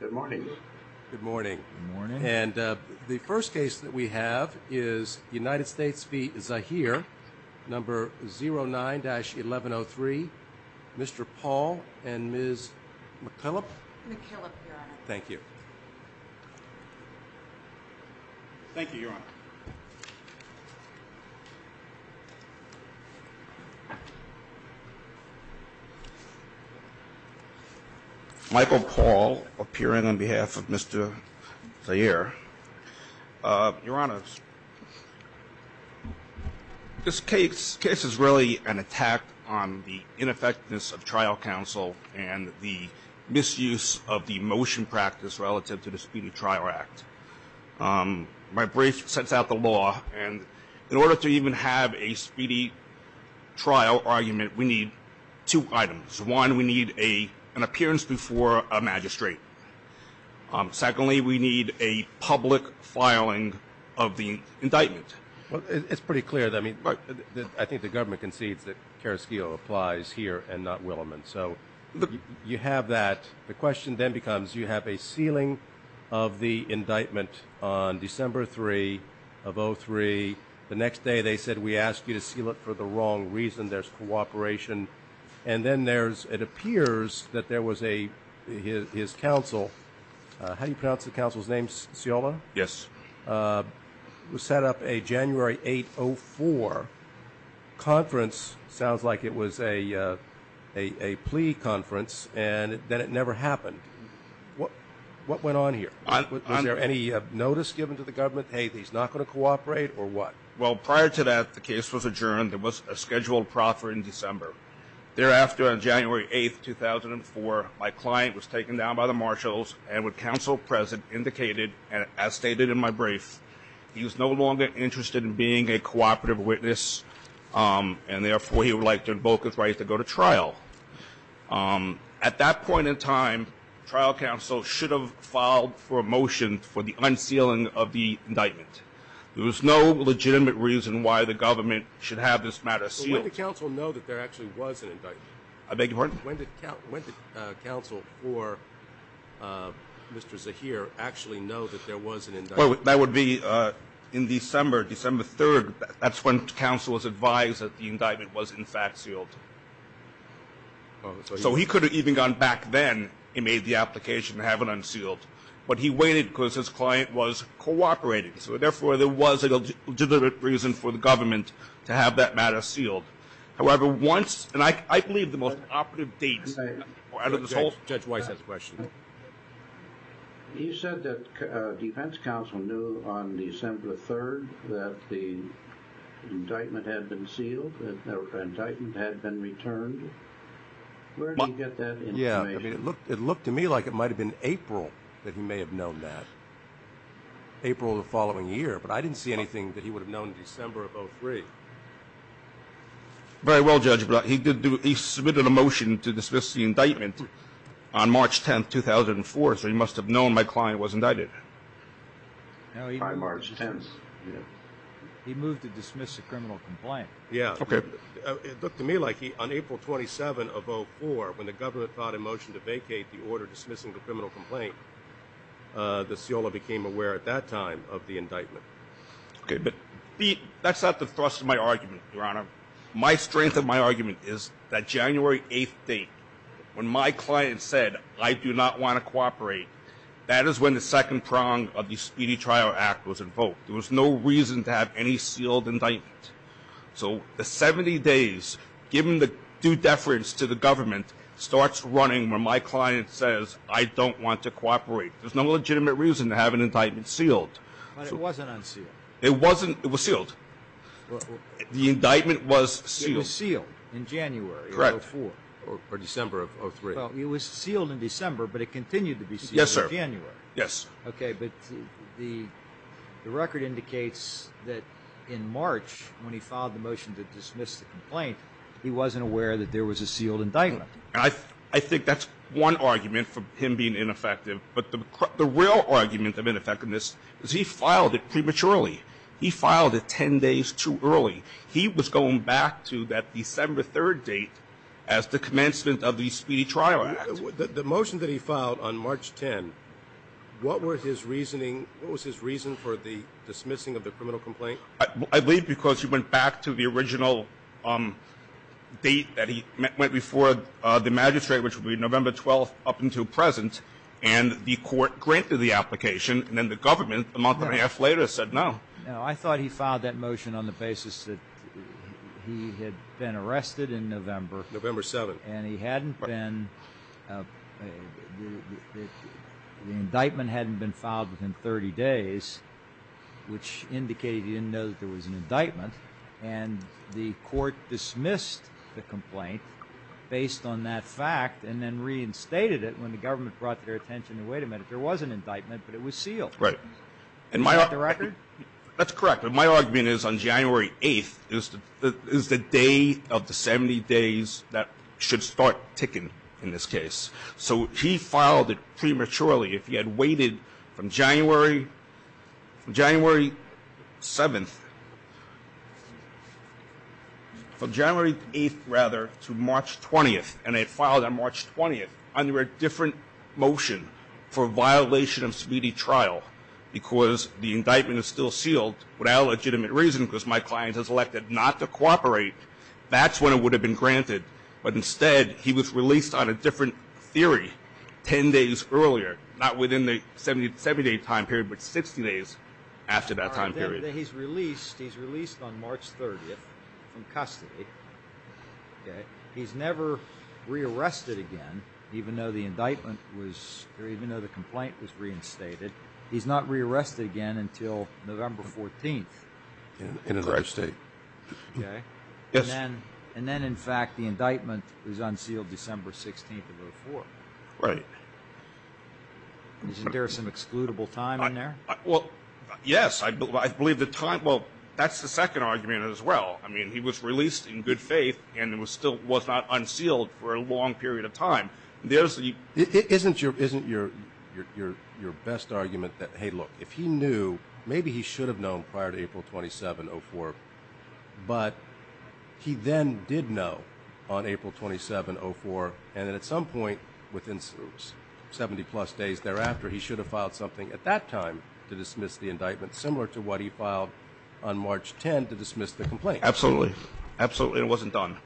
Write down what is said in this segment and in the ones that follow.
Good morning. Good morning. Good morning. And the first case that we have is United States v. Zahir, number 09-1103. Mr. Paul and Ms. McKillop? McKillop, Your Honor. Thank you. Thank you, Your Honor. Michael Paul, appearing on behalf of Mr. Zahir. Your Honor, this case is really an attack on the ineffectiveness of trial counsel and the misuse of the motion practice relative to the Speedy Trial Act. My brief sets out the law. And in order to even have a speedy trial argument, we need two items. One, we need an appearance before a magistrate. Secondly, we need a public filing of the indictment. Well, it's pretty clear. I mean, I think the government concedes that Carrasquillo applies here and not Williman. So you have that. The question then becomes, you have a sealing of the indictment on December 3 of 2003. The next day they said, we ask you to seal it for the wrong reason. There's cooperation. And then it appears that there was his counsel. How do you pronounce the counsel's name? Sciola? Yes. It was set up a January 8, 2004 conference. Sounds like it was a plea conference, and then it never happened. What went on here? Was there any notice given to the government, hey, he's not going to cooperate, or what? Well, prior to that, the case was adjourned. There was a scheduled proffer in December. Thereafter, on January 8, 2004, my client was taken down by the marshals and with counsel present indicated, as stated in my brief, he was no longer interested in being a cooperative witness and therefore he would like to invoke his right to go to trial. At that point in time, trial counsel should have filed for a motion for the unsealing of the indictment. There was no legitimate reason why the government should have this matter sealed. So when did counsel know that there actually was an indictment? I beg your pardon? When did counsel for Mr. Zaheer actually know that there was an indictment? That would be in December, December 3. That's when counsel was advised that the indictment was in fact sealed. So he could have even gone back then and made the application to have it unsealed, but he waited because his client was cooperating, so therefore there was a legitimate reason for the government to have that matter sealed. However, once, and I believe the most operative dates out of this whole thing. Judge Weiss has a question. He said that defense counsel knew on December 3 that the indictment had been sealed, that the indictment had been returned. Where did he get that information? Yeah, it looked to me like it might have been April that he may have known that, April of the following year, but I didn't see anything that he would have known in December of 03. Very well, Judge, he submitted a motion to dismiss the indictment on March 10, 2004, so he must have known my client was indicted. By March 10th, yeah. He moved to dismiss the criminal complaint. Yeah. Okay. It looked to me like he, on April 27 of 04, when the government filed a motion to vacate the order dismissing the criminal complaint, that Sciola became aware at that time of the indictment. Okay, but that's not the thrust of my argument, Your Honor. My strength of my argument is that January 8th date, when my client said, I do not want to cooperate, that is when the second prong of the Speedy Trial Act was invoked. There was no reason to have any sealed indictment. So the 70 days, given the due deference to the government, starts running when my client says, I don't want to cooperate. There's no legitimate reason to have an indictment sealed. It wasn't. It was sealed. The indictment was sealed. It was sealed in January of 04. Correct. Or December of 03. Well, it was sealed in December, but it continued to be sealed in January. Yes, sir. Yes. Okay, but the record indicates that in March, when he filed the motion to dismiss the complaint, he wasn't aware that there was a sealed indictment. I think that's one argument for him being ineffective. But the real argument of ineffectiveness is he filed it prematurely. He filed it 10 days too early. He was going back to that December 03 date as the commencement of the Speedy Trial Act. The motion that he filed on March 10, what was his reason for the dismissing of the criminal complaint? I believe because he went back to the original date that he went before the magistrate, which would be November 12 up until present, and the court granted the application, and then the government, a month and a half later, said no. No, I thought he filed that motion on the basis that he had been arrested in November. November 7. And he hadn't been—the indictment hadn't been filed within 30 days, which indicated he didn't know that there was an indictment, and the court dismissed the complaint based on that fact and then reinstated it when the government brought to their attention, wait a minute, there was an indictment, but it was sealed. Right. Is that the record? That's correct. My argument is on January 8 is the day of the 70 days that should start ticking in this case. So he filed it prematurely. If he had waited from January 7, from January 8, rather, to March 20, under a different motion for violation of speedy trial because the indictment is still sealed without legitimate reason because my client has elected not to cooperate, that's when it would have been granted. But instead, he was released on a different theory 10 days earlier, not within the 70-day time period, but 60 days after that time period. All right. Then he's released. He's released on March 30 from custody. Okay. He's never rearrested again, even though the indictment was, or even though the complaint was reinstated. He's not rearrested again until November 14th. In his arrest state. Okay. Yes. And then, in fact, the indictment was unsealed December 16th of 2004. Right. Isn't there some excludable time in there? Well, yes. I believe the time, well, that's the second argument as well. I mean, he was released in good faith and was not unsealed for a long period of time. Isn't your best argument that, hey, look, if he knew, maybe he should have known prior to April 27, 2004, but he then did know on April 27, 2004, and then at some point within 70-plus days thereafter, he should have filed something at that time to dismiss the indictment, similar to what he filed on March 10 to dismiss the complaint. Absolutely. Absolutely. It wasn't done.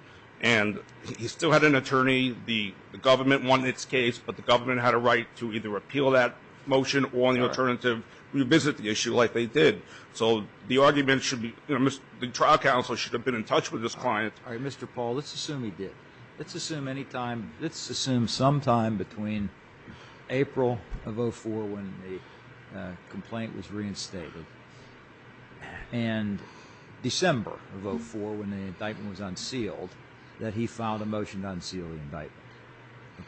And he still had an attorney. The government wanted its case, but the government had a right to either repeal that motion or, on the alternative, revisit the issue like they did. So the argument should be, you know, the trial counsel should have been in touch with this client. All right, Mr. Paul, let's assume he did. Let's assume anytime, let's assume sometime between April of 2004 when the complaint was reinstated and December of 2004 when the indictment was unsealed, that he filed a motion to unseal the indictment.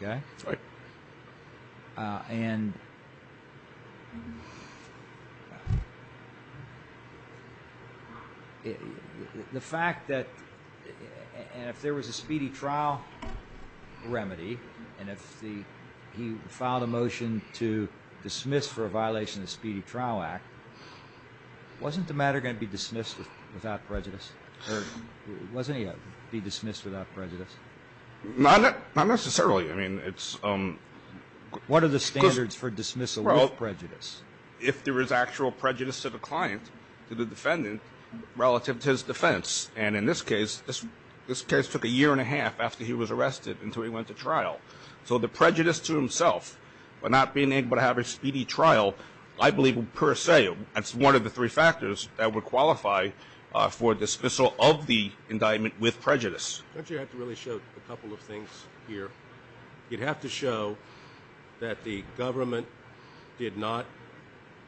Okay? Right. And the fact that if there was a speedy trial remedy and if he filed a motion to dismiss for a violation of the Speedy Trial Act, wasn't the matter going to be dismissed without prejudice? Or wasn't he going to be dismissed without prejudice? Not necessarily. I mean, it's — What are the standards for dismissal with prejudice? Well, if there is actual prejudice to the client, to the defendant, relative to his defense. And in this case, this case took a year and a half after he was arrested until he went to trial. So the prejudice to himself for not being able to have a speedy trial, I believe, per se, that's one of the three factors that would qualify for dismissal of the indictment with prejudice. Don't you have to really show a couple of things here? You'd have to show that the government did not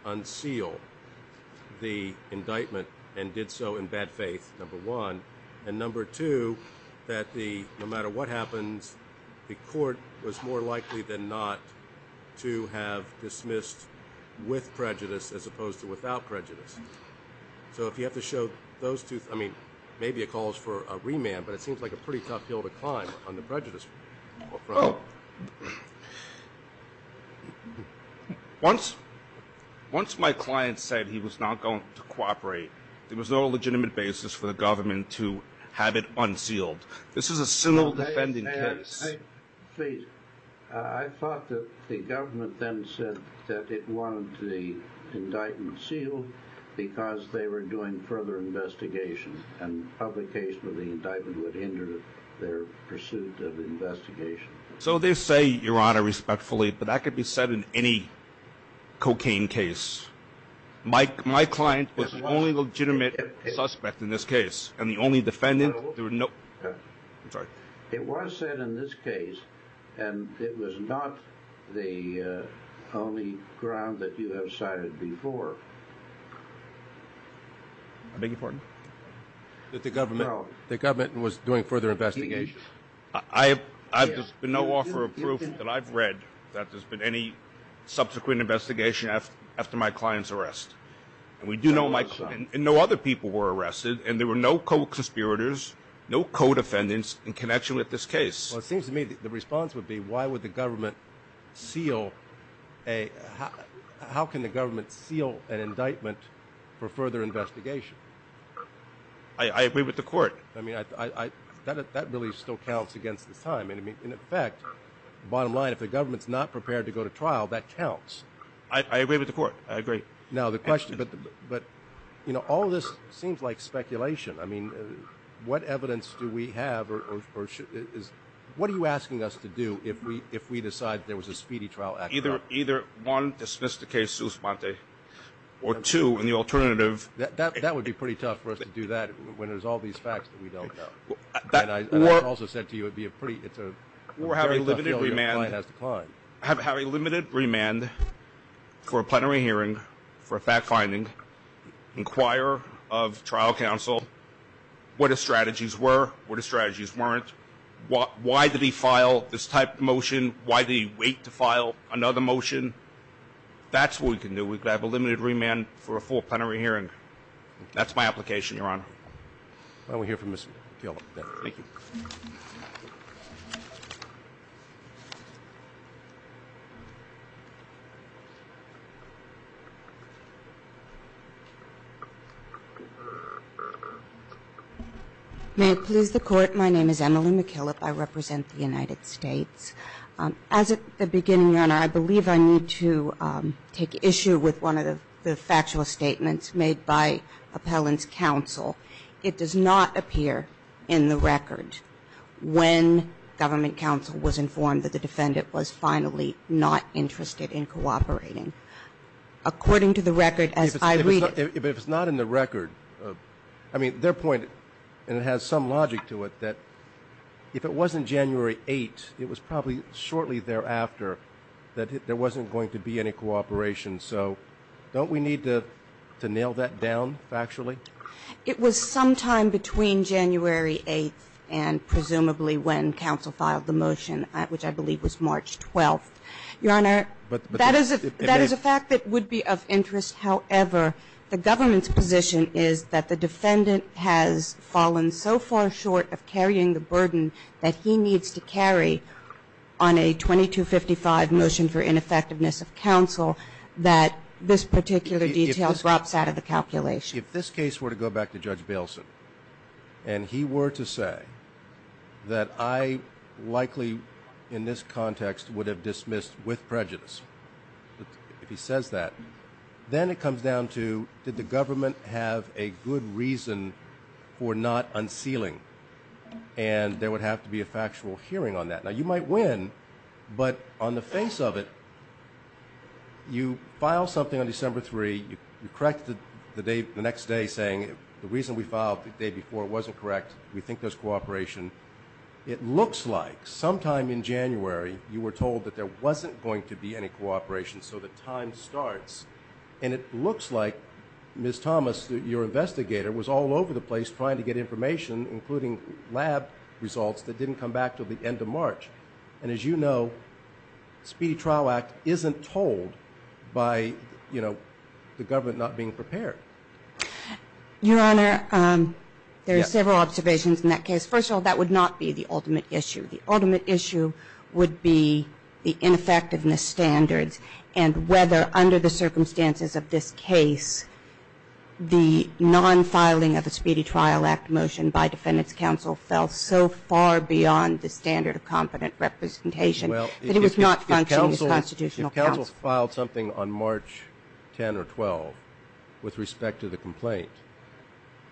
unseal the indictment and did so in bad faith, number one. And number two, that no matter what happens, the court was more likely than not to have dismissed with prejudice as opposed to without prejudice. So if you have to show those two — I mean, maybe it calls for a remand, but it seems like a pretty tough hill to climb on the prejudice front. Well, once my client said he was not going to cooperate, there was no legitimate basis for the government to have it unsealed. This is a civil defending case. I thought that the government then said that it wanted the indictment sealed because they were doing further investigation and public case with the indictment would hinder their pursuit of investigation. So they say, Your Honor, respectfully, but that could be said in any cocaine case. My client was the only legitimate suspect in this case, and the only defendant. I'm sorry. It was said in this case, and it was not the only ground that you have cited before. I beg your pardon? That the government was doing further investigation. There's been no offer of proof that I've read that there's been any subsequent investigation after my client's arrest. And we do know my client, and no other people were arrested, and there were no co-conspirators, no co-defendants in connection with this case. Well, it seems to me the response would be why would the government seal a — how can the government seal an indictment for further investigation? I agree with the court. I mean, that really still counts against the time. And, in fact, bottom line, if the government's not prepared to go to trial, that counts. I agree with the court. I agree. Now, the question — but, you know, all of this seems like speculation. I mean, what evidence do we have or is — what are you asking us to do if we decide there was a speedy trial? Either, one, dismiss the case su sponte, or, two, in the alternative — That would be pretty tough for us to do that when there's all these facts that we don't know. And I also said to you it would be a pretty — it's a very tough field your client has to climb. Have a limited remand for a plenary hearing for a fact-finding. Inquire of trial counsel what his strategies were, what his strategies weren't. Why did he file this type of motion? Why did he wait to file another motion? That's what we can do. We could have a limited remand for a full plenary hearing. That's my application, Your Honor. Why don't we hear from Ms. McKillop. Thank you. May it please the Court. My name is Emily McKillop. I represent the United States. As a beginning, Your Honor, I believe I need to take issue with one of the factual statements made by Appellant's counsel. It does not appear in the record when Government Counsel was informed that the defendant was finally not interested in cooperating. According to the record as I read it — But if it's not in the record — I mean, their point, and it has some logic to it, that if it wasn't January 8th, it was probably shortly thereafter that there wasn't going to be any cooperation. So don't we need to nail that down factually? It was sometime between January 8th and presumably when Counsel filed the motion, which I believe was March 12th. Your Honor, that is a fact that would be of interest. However, the Government's position is that the defendant has fallen so far short of carrying the burden that he needs to carry on a 2255 motion for ineffectiveness of counsel that this particular detail drops out of the calculation. If this case were to go back to Judge Bailson and he were to say that I likely, in this context, would have dismissed with prejudice, if he says that, then it comes down to did the Government have a good reason for not unsealing and there would have to be a factual hearing on that. Now, you might win, but on the face of it, you file something on December 3rd, you correct it the next day saying the reason we filed the day before wasn't correct, we think there's cooperation. It looks like sometime in January you were told that there wasn't going to be any cooperation, so the time starts. And it looks like, Ms. Thomas, your investigator was all over the place trying to get information, including lab results, that didn't come back until the end of March. And as you know, Speedy Trial Act isn't told by, you know, the Government not being prepared. Your Honor, there are several observations in that case. First of all, that would not be the ultimate issue. The ultimate issue would be the ineffectiveness standards and whether under the circumstances of this case the non-filing of the Speedy Trial Act motion by Defendant's counsel fell so far beyond the standard of competent representation that it was not functioning as constitutional counsel. If counsel filed something on March 10 or 12 with respect to the complaint,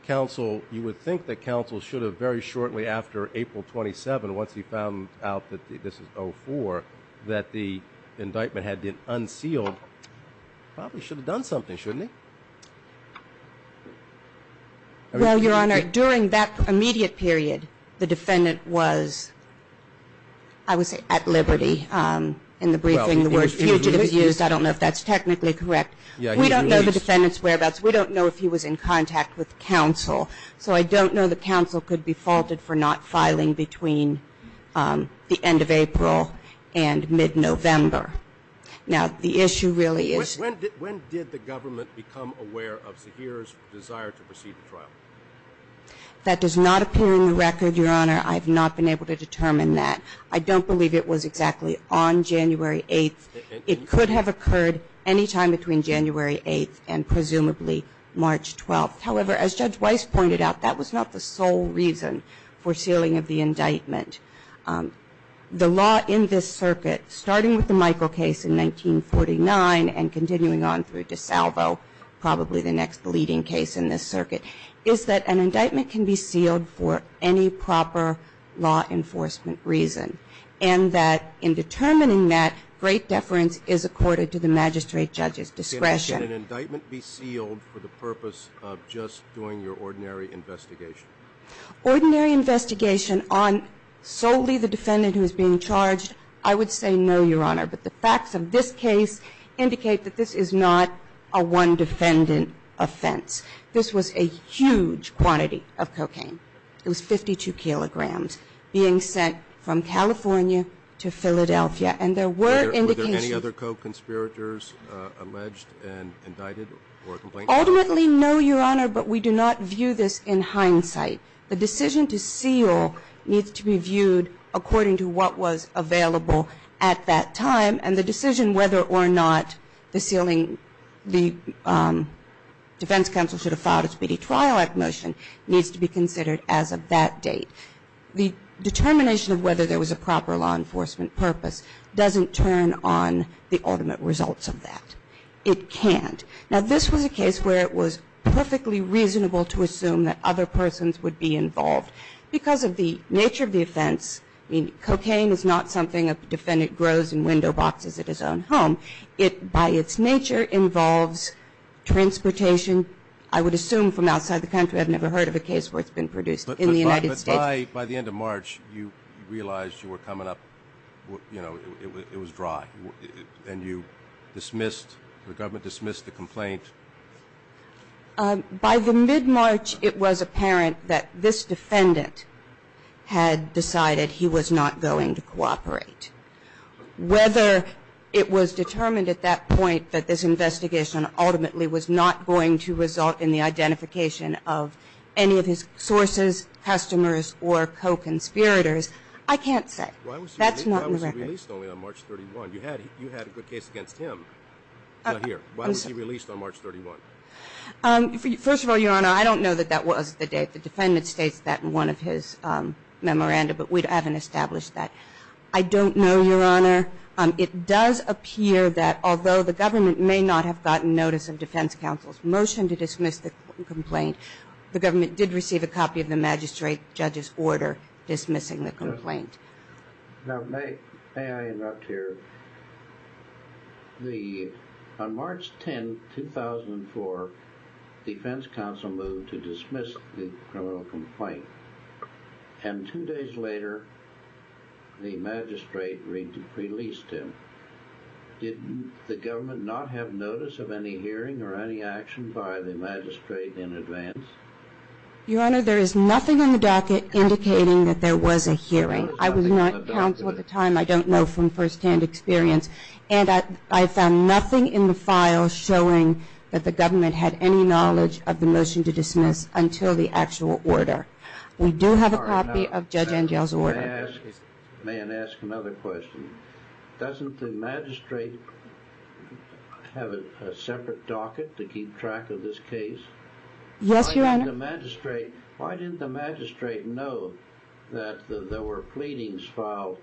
counsel, you would think that counsel should have very shortly after April 27, once he found out that this is 04, that the indictment had been unsealed, probably should have done something, shouldn't he? Well, Your Honor, during that immediate period, the Defendant was, I would say, at liberty. In the briefing, the word fugitive is used. I don't know if that's technically correct. We don't know the Defendant's whereabouts. We don't know if he was in contact with counsel. So I don't know that counsel could be faulted for not filing between the end of April and mid-November. Now, the issue really is. When did the government become aware of Zaheer's desire to proceed with trial? That does not appear in the record, Your Honor. I have not been able to determine that. I don't believe it was exactly on January 8. It could have occurred any time between January 8 and presumably March 12. However, as Judge Weiss pointed out, that was not the sole reason for sealing of the indictment. The law in this circuit, starting with the Michael case in 1949 and continuing on through DeSalvo, probably the next leading case in this circuit, is that an indictment can be sealed for any proper law enforcement reason, and that in determining that, great deference is accorded to the magistrate judge's discretion. Can an indictment be sealed for the purpose of just doing your ordinary investigation? Ordinary investigation on solely the defendant who is being charged, I would say no, Your Honor. But the facts of this case indicate that this is not a one-defendant offense. This was a huge quantity of cocaine. It was 52 kilograms being sent from California to Philadelphia. And there were indications. Were there any other co-conspirators alleged and indicted or complained about? Ultimately, no, Your Honor, but we do not view this in hindsight. The decision to seal needs to be viewed according to what was available at that time, and the decision whether or not the defense counsel should have filed a speedy trial at motion needs to be considered as of that date. The determination of whether there was a proper law enforcement purpose doesn't turn on the ultimate results of that. It can't. Now, this was a case where it was perfectly reasonable to assume that other persons would be involved. Because of the nature of the offense, I mean, cocaine is not something a defendant grows in window boxes at his own home. It, by its nature, involves transportation, I would assume, from outside the country. I've never heard of a case where it's been produced in the United States. But by the end of March, you realized you were coming up, you know, it was dry. And you dismissed, the government dismissed the complaint. By the mid-March, it was apparent that this defendant had decided he was not going to cooperate. Whether it was determined at that point that this investigation ultimately was not going to result in the identification of any of his sources, customers, or co-conspirators, I can't say. Why was he released only on March 31? You had a good case against him. He's not here. Why was he released on March 31? First of all, Your Honor, I don't know that that was the date. The defendant states that in one of his memoranda, but we haven't established that. I don't know, Your Honor. It does appear that although the government may not have gotten notice of defense counsel's motion to dismiss the complaint, the government did receive a copy of the magistrate judge's order dismissing the complaint. Now, may I interrupt here? On March 10, 2004, defense counsel moved to dismiss the criminal complaint. And two days later, the magistrate released him. Did the government not have notice of any hearing or any action by the magistrate in advance? Your Honor, there is nothing on the docket indicating that there was a hearing. I was not counsel at the time. I don't know from firsthand experience. And I found nothing in the file showing that the government had any knowledge of the motion to dismiss until the actual order. We do have a copy of Judge Angell's order. May I ask another question? Doesn't the magistrate have a separate docket to keep track of this case? Yes, Your Honor. Why didn't the magistrate know that there were pleadings filed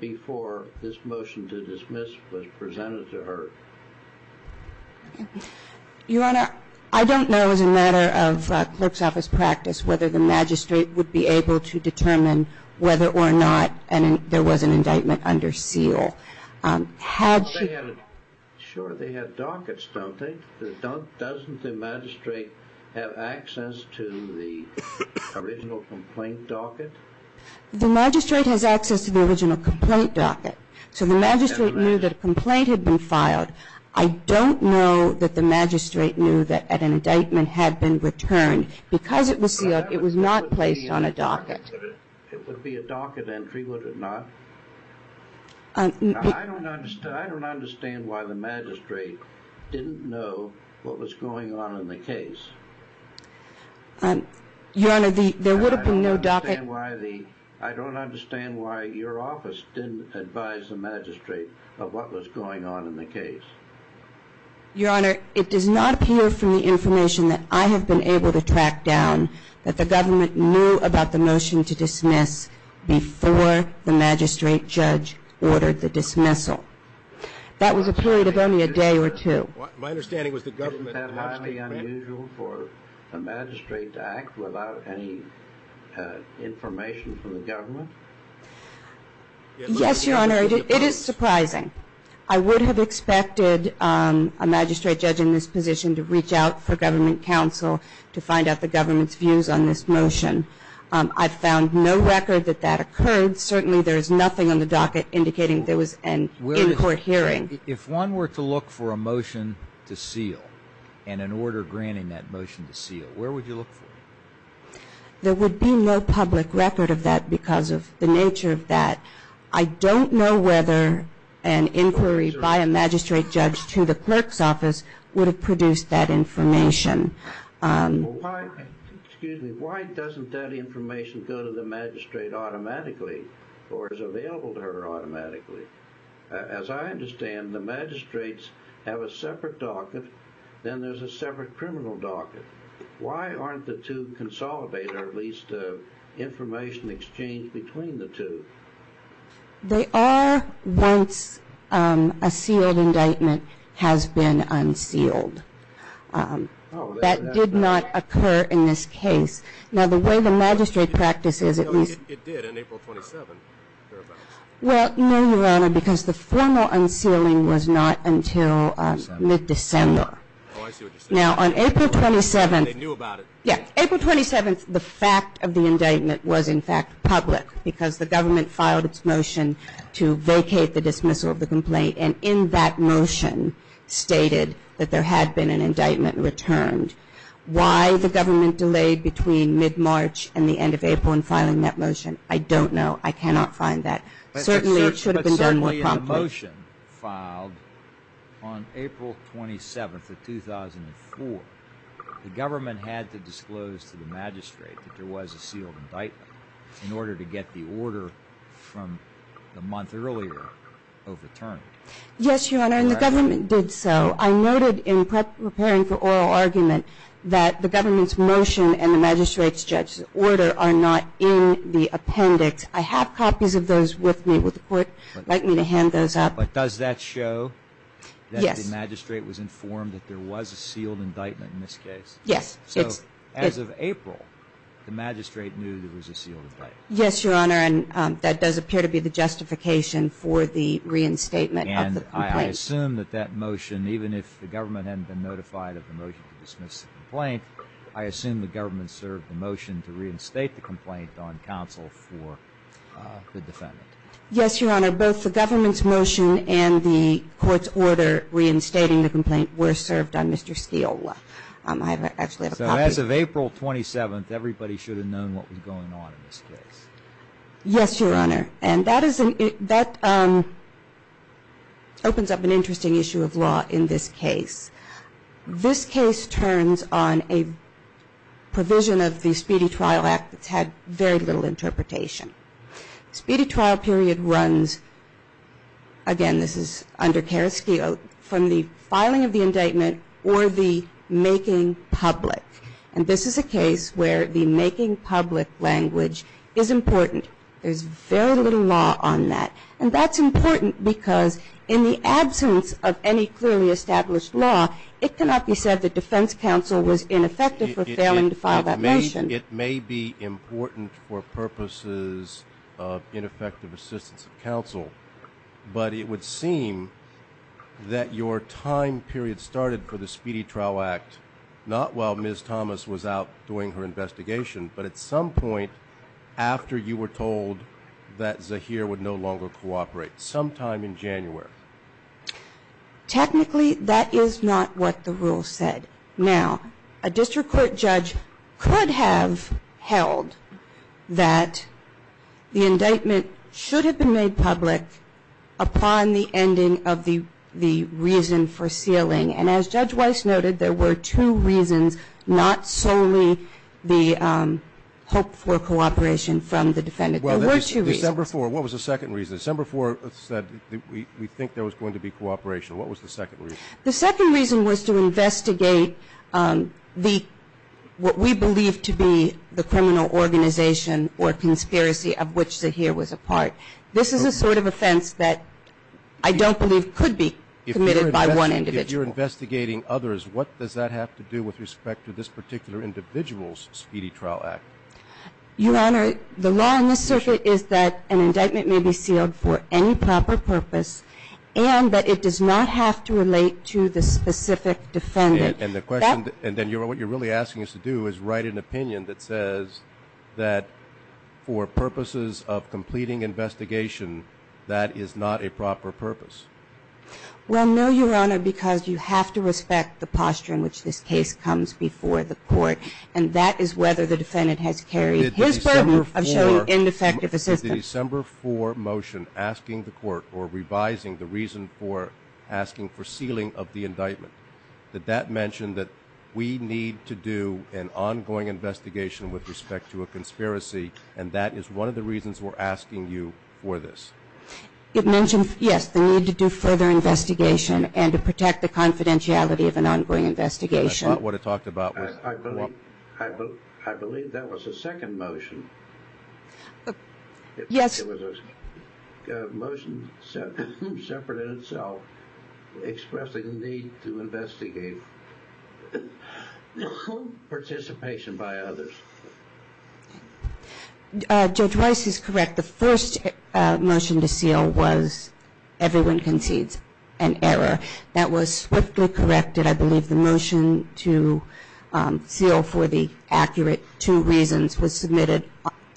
before this motion to dismiss was presented to her? Your Honor, I don't know as a matter of clerk's office practice whether the magistrate would be able to determine whether or not there was an indictment under seal. Sure, they had dockets, don't they? Doesn't the magistrate have access to the original complaint docket? The magistrate has access to the original complaint docket. So the magistrate knew that a complaint had been filed. I don't know that the magistrate knew that an indictment had been returned. Because it was sealed, it was not placed on a docket. It would be a docket entry, would it not? I don't understand why the magistrate didn't know what was going on in the case. Your Honor, there would have been no docket. I don't understand why your office didn't advise the magistrate of what was going on in the case. Your Honor, it does not appear from the information that I have been able to track down that the government knew about the motion to dismiss before the magistrate judge ordered the dismissal. That was a period of only a day or two. My understanding was the government had highly unusual for the magistrate to act without any information from the government? Yes, Your Honor, it is surprising. I would have expected a magistrate judge in this position to reach out for government counsel to find out the government's views on this motion. I found no record that that occurred. Certainly, there is nothing on the docket indicating there was an in-court hearing. If one were to look for a motion to seal and an order granting that motion to seal, where would you look for it? There would be no public record of that because of the nature of that. I don't know whether an inquiry by a magistrate judge to the clerk's office would have produced that information. Excuse me. Why doesn't that information go to the magistrate automatically or is available to her automatically? As I understand, the magistrates have a separate docket, then there's a separate criminal docket. Why aren't the two consolidated or at least information exchanged between the two? They are once a sealed indictment has been unsealed. That did not occur in this case. Now, the way the magistrate practices at least – It did in April 27. Well, no, Your Honor, because the formal unsealing was not until mid-December. Oh, I see what you're saying. Now, on April 27 – They knew about it. Yes. April 27, the fact of the indictment was in fact public because the government filed its motion to vacate the dismissal of the complaint and in that motion stated that there had been an indictment returned. Why the government delayed between mid-March and the end of April in filing that motion, I don't know. I cannot find that. Certainly, it should have been done more promptly. When the motion filed on April 27 of 2004, the government had to disclose to the magistrate that there was a sealed indictment in order to get the order from the month earlier overturned. Yes, Your Honor, and the government did so. I noted in preparing for oral argument that the government's motion and the magistrate's judge's order are not in the appendix. I have copies of those with me. Would the Court like me to hand those up? But does that show that the magistrate was informed that there was a sealed indictment in this case? Yes. So as of April, the magistrate knew there was a sealed indictment. Yes, Your Honor, and that does appear to be the justification for the reinstatement of the complaint. And I assume that that motion, even if the government hadn't been notified of the motion to dismiss the complaint, I assume the government served the motion to reinstate the complaint on counsel for the defendant. Yes, Your Honor. Both the government's motion and the court's order reinstating the complaint were served on Mr. Steele. I actually have a copy. So as of April 27, everybody should have known what was going on in this case. Yes, Your Honor, and that opens up an interesting issue of law in this case. This case turns on a provision of the Speedy Trial Act that's had very little interpretation. Speedy Trial period runs, again, this is under Kereski, from the filing of the indictment or the making public. And this is a case where the making public language is important. There's very little law on that. And that's important because in the absence of any clearly established law, it cannot be said that defense counsel was ineffective for failing to file that motion. It may be important for purposes of ineffective assistance of counsel, but it would seem that your time period started for the Speedy Trial Act not while Ms. Thomas was out doing her investigation, but at some point after you were told that Zaheer would no longer cooperate, sometime in January. Technically, that is not what the rule said. Now, a district court judge could have held that the indictment should have been made public upon the ending of the reason for sealing. And as Judge Weiss noted, there were two reasons, not solely the hope for cooperation from the defendant. There were two reasons. Well, December 4th, what was the second reason? December 4th said we think there was going to be cooperation. What was the second reason? The second reason was to investigate what we believe to be the criminal organization or conspiracy of which Zaheer was a part. This is a sort of offense that I don't believe could be committed by one individual. If you're investigating others, what does that have to do with respect to this particular individual's Speedy Trial Act? Your Honor, the law on this circuit is that an indictment may be sealed for any proper purpose and that it does not have to relate to the specific defendant. And the question, and then what you're really asking us to do is write an opinion that says that for purposes of completing investigation, that is not a proper purpose. Well, no, Your Honor, because you have to respect the posture in which this case comes before the court, and that is whether the defendant has carried his burden of showing ineffective assistance. Did the December 4 motion asking the court or revising the reason for asking for sealing of the indictment, did that mention that we need to do an ongoing investigation with respect to a conspiracy, and that is one of the reasons we're asking you for this? It mentioned, yes, the need to do further investigation and to protect the confidentiality of an ongoing investigation. I thought what it talked about was... I believe that was the second motion. Yes. It was a motion separate in itself expressing the need to investigate participation by others. Judge Rice is correct. The first motion to seal was everyone concedes an error. That was swiftly corrected. I believe the motion to seal for the accurate two reasons was submitted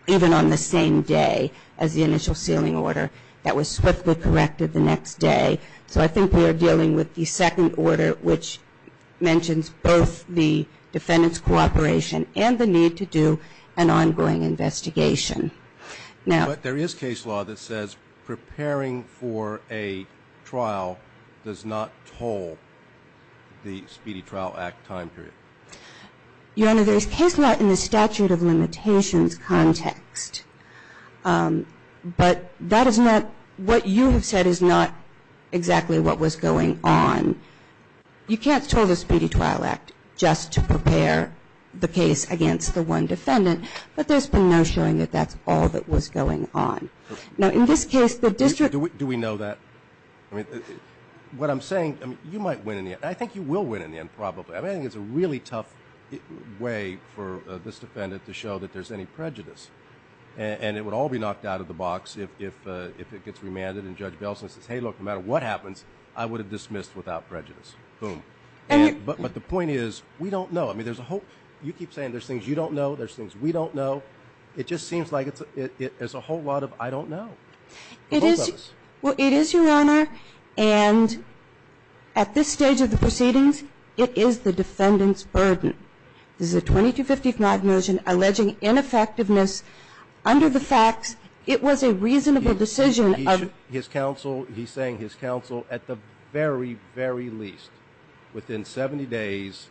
even on the same day as the initial sealing order. That was swiftly corrected the next day. So I think we are dealing with the second order, which mentions both the defendant's cooperation and the need to do an ongoing investigation. But there is case law that says preparing for a trial does not toll the Speedy Trial Act time period. Your Honor, there is case law in the statute of limitations context, but that is not what you have said is not exactly what was going on. You can't toll the Speedy Trial Act just to prepare the case against the one defendant, but there's been no showing that that's all that was going on. Now, in this case, the district... Do we know that? What I'm saying, you might win in the end. I think you will win in the end probably. I think it's a really tough way for this defendant to show that there's any prejudice, and it would all be knocked out of the box if it gets remanded and Judge Belson says, hey, look, no matter what happens, I would have dismissed without prejudice. Boom. But the point is we don't know. I mean, there's a whole... You keep saying there's things you don't know, there's things we don't know. It just seems like there's a whole lot of I don't know. It is, Your Honor, and at this stage of the proceedings, it is the defendant's burden. This is a 2255 motion alleging ineffectiveness under the facts. It was a reasonable decision of... He's saying his counsel at the very, very least, within 70 days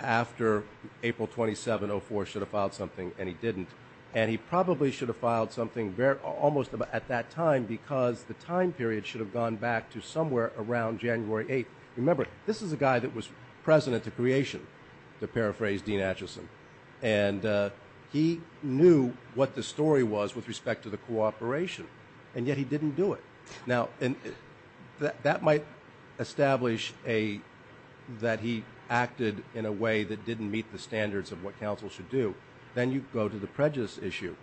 after April 27, 2004, should have filed something, and he didn't. And he probably should have filed something almost at that time because the time period should have gone back to somewhere around January 8th. Remember, this is a guy that was president to creation, to paraphrase Dean Atchison, and he knew what the story was with respect to the cooperation, and yet he didn't do it. Now, that might establish that he acted in a way that didn't meet the standards of what counsel should do. Then you go to the prejudice issue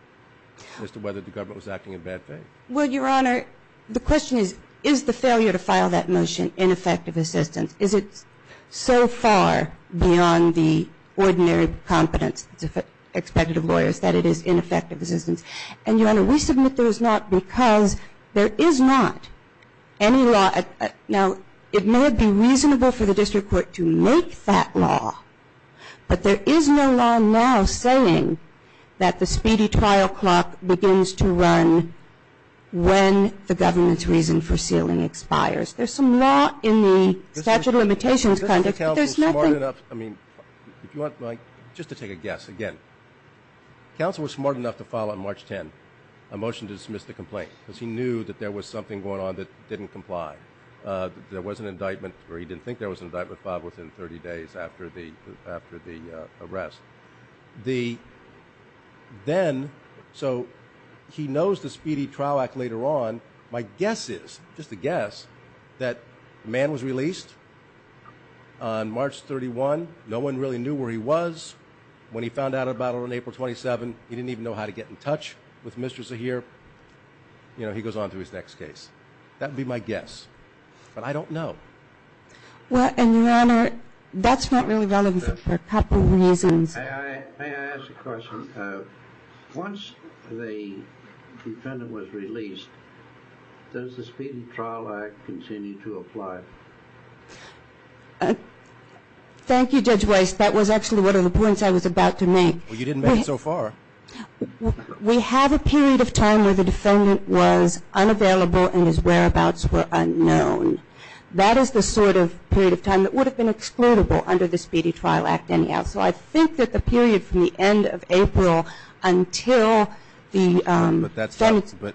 as to whether the government was acting in bad faith. Well, Your Honor, the question is, is the failure to file that motion ineffective assistance? Is it so far beyond the ordinary competence expected of lawyers that it is ineffective assistance? And, Your Honor, we submit there is not because there is not any law. Now, it may be reasonable for the district court to make that law, but there is no law now saying that the speedy trial clock begins to run when the government's reason for sealing expires. There's some law in the statute of limitations, but there's nothing. Just to take a guess, again, counsel was smart enough to file on March 10 a motion to dismiss the complaint because he knew that there was something going on that didn't comply. There was an indictment, or he didn't think there was an indictment filed within 30 days after the arrest. Then, so he knows the speedy trial act later on. My guess is, just a guess, that the man was released on March 31. No one really knew where he was. When he found out about it on April 27, he didn't even know how to get in touch with Mr. Zahir. You know, he goes on to his next case. That would be my guess, but I don't know. Well, and your honor, that's not really relevant for a couple of reasons. May I ask a question? Once the defendant was released, does the speedy trial act continue to apply? Thank you, Judge Weiss. That was actually one of the points I was about to make. Well, you didn't make it so far. We have a period of time where the defendant was unavailable and his whereabouts were unknown. That is the sort of period of time that would have been excludable under the speedy trial act anyhow. So I think that the period from the end of April until the defendant's But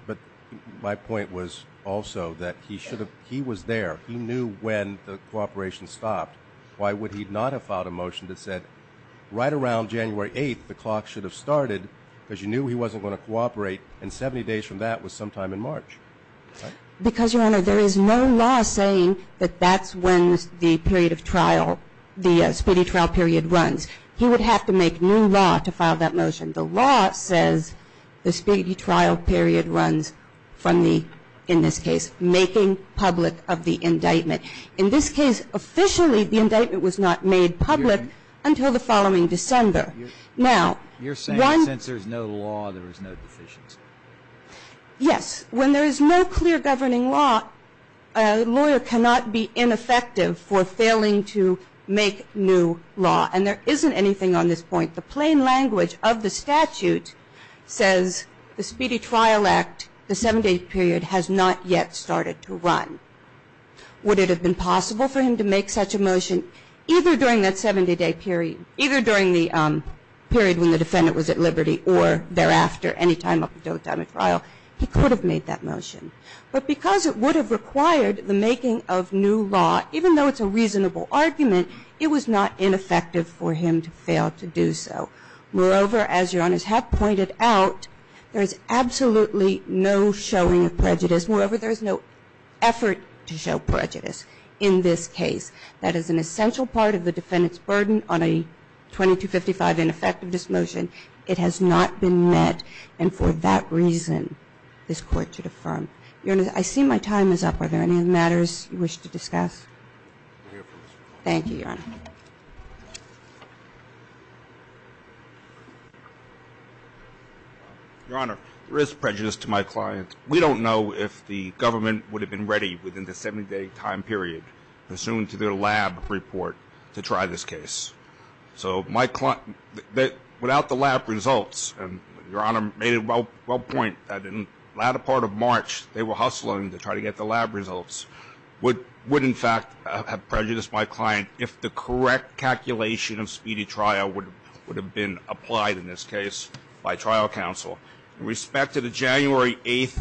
my point was also that he was there. He knew when the cooperation stopped. Why would he not have filed a motion that said right around January 8, the clock should have started because you knew he wasn't going to cooperate, and 70 days from that was sometime in March. Because, your honor, there is no law saying that that's when the period of trial, the speedy trial period runs. He would have to make new law to file that motion. The law says the speedy trial period runs from the, in this case, making public of the indictment. In this case, officially, the indictment was not made public until the following December. Now, one You're saying since there's no law, there is no deficiency. Yes. When there is no clear governing law, a lawyer cannot be ineffective for failing to make new law. And there isn't anything on this point. The plain language of the statute says the speedy trial act, the 70-day period, has not yet started to run. Would it have been possible for him to make such a motion either during that 70-day period, either during the period when the defendant was at liberty or thereafter, any time up until the time of trial? He could have made that motion. But because it would have required the making of new law, even though it's a reasonable argument, it was not ineffective for him to fail to do so. Moreover, as your honors have pointed out, there is absolutely no showing of prejudice. Moreover, there is no effort to show prejudice in this case. That is an essential part of the defendant's burden on a 2255 ineffectiveness motion. It has not been met. And for that reason, this Court should affirm. Your honors, I see my time is up. Are there any other matters you wish to discuss? Thank you, your honor. Your honor, there is prejudice to my client. We don't know if the government would have been ready within the 70-day time period, pursuant to their lab report, to try this case. So my client, without the lab results, and your honor made a well point, that in the latter part of March they were hustling to try to get the lab results, would in fact have prejudiced my client if the correct calculation of speedy trial would have been applied in this case by trial counsel. With respect to the January 8th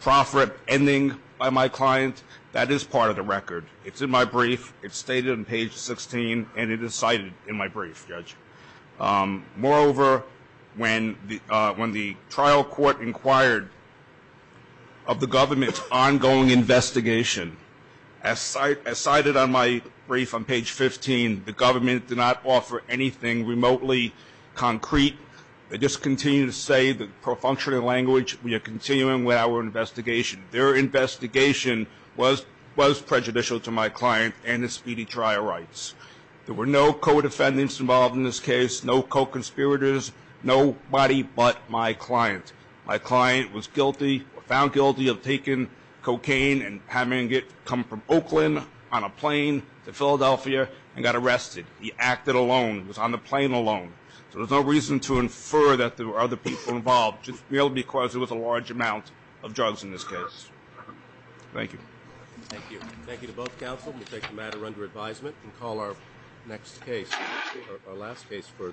profferent ending by my client, that is part of the record. It's in my brief. It's stated on page 16, and it is cited in my brief, Judge. Moreover, when the trial court inquired of the government's ongoing investigation, as cited on my brief on page 15, the government did not offer anything remotely concrete. They just continued to say the pro-functioning language, we are continuing with our investigation. Their investigation was prejudicial to my client and his speedy trial rights. There were no co-defendants involved in this case, no co-conspirators, nobody but my client. My client was found guilty of taking cocaine and having it come from Oakland on a plane to Philadelphia and got arrested. He acted alone, was on the plane alone. So there's no reason to infer that there were other people involved, just merely because there was a large amount of drugs in this case. Thank you. Thank you. Thank you to both counsel. We take the matter under advisement and call our next case, our last case for discussion.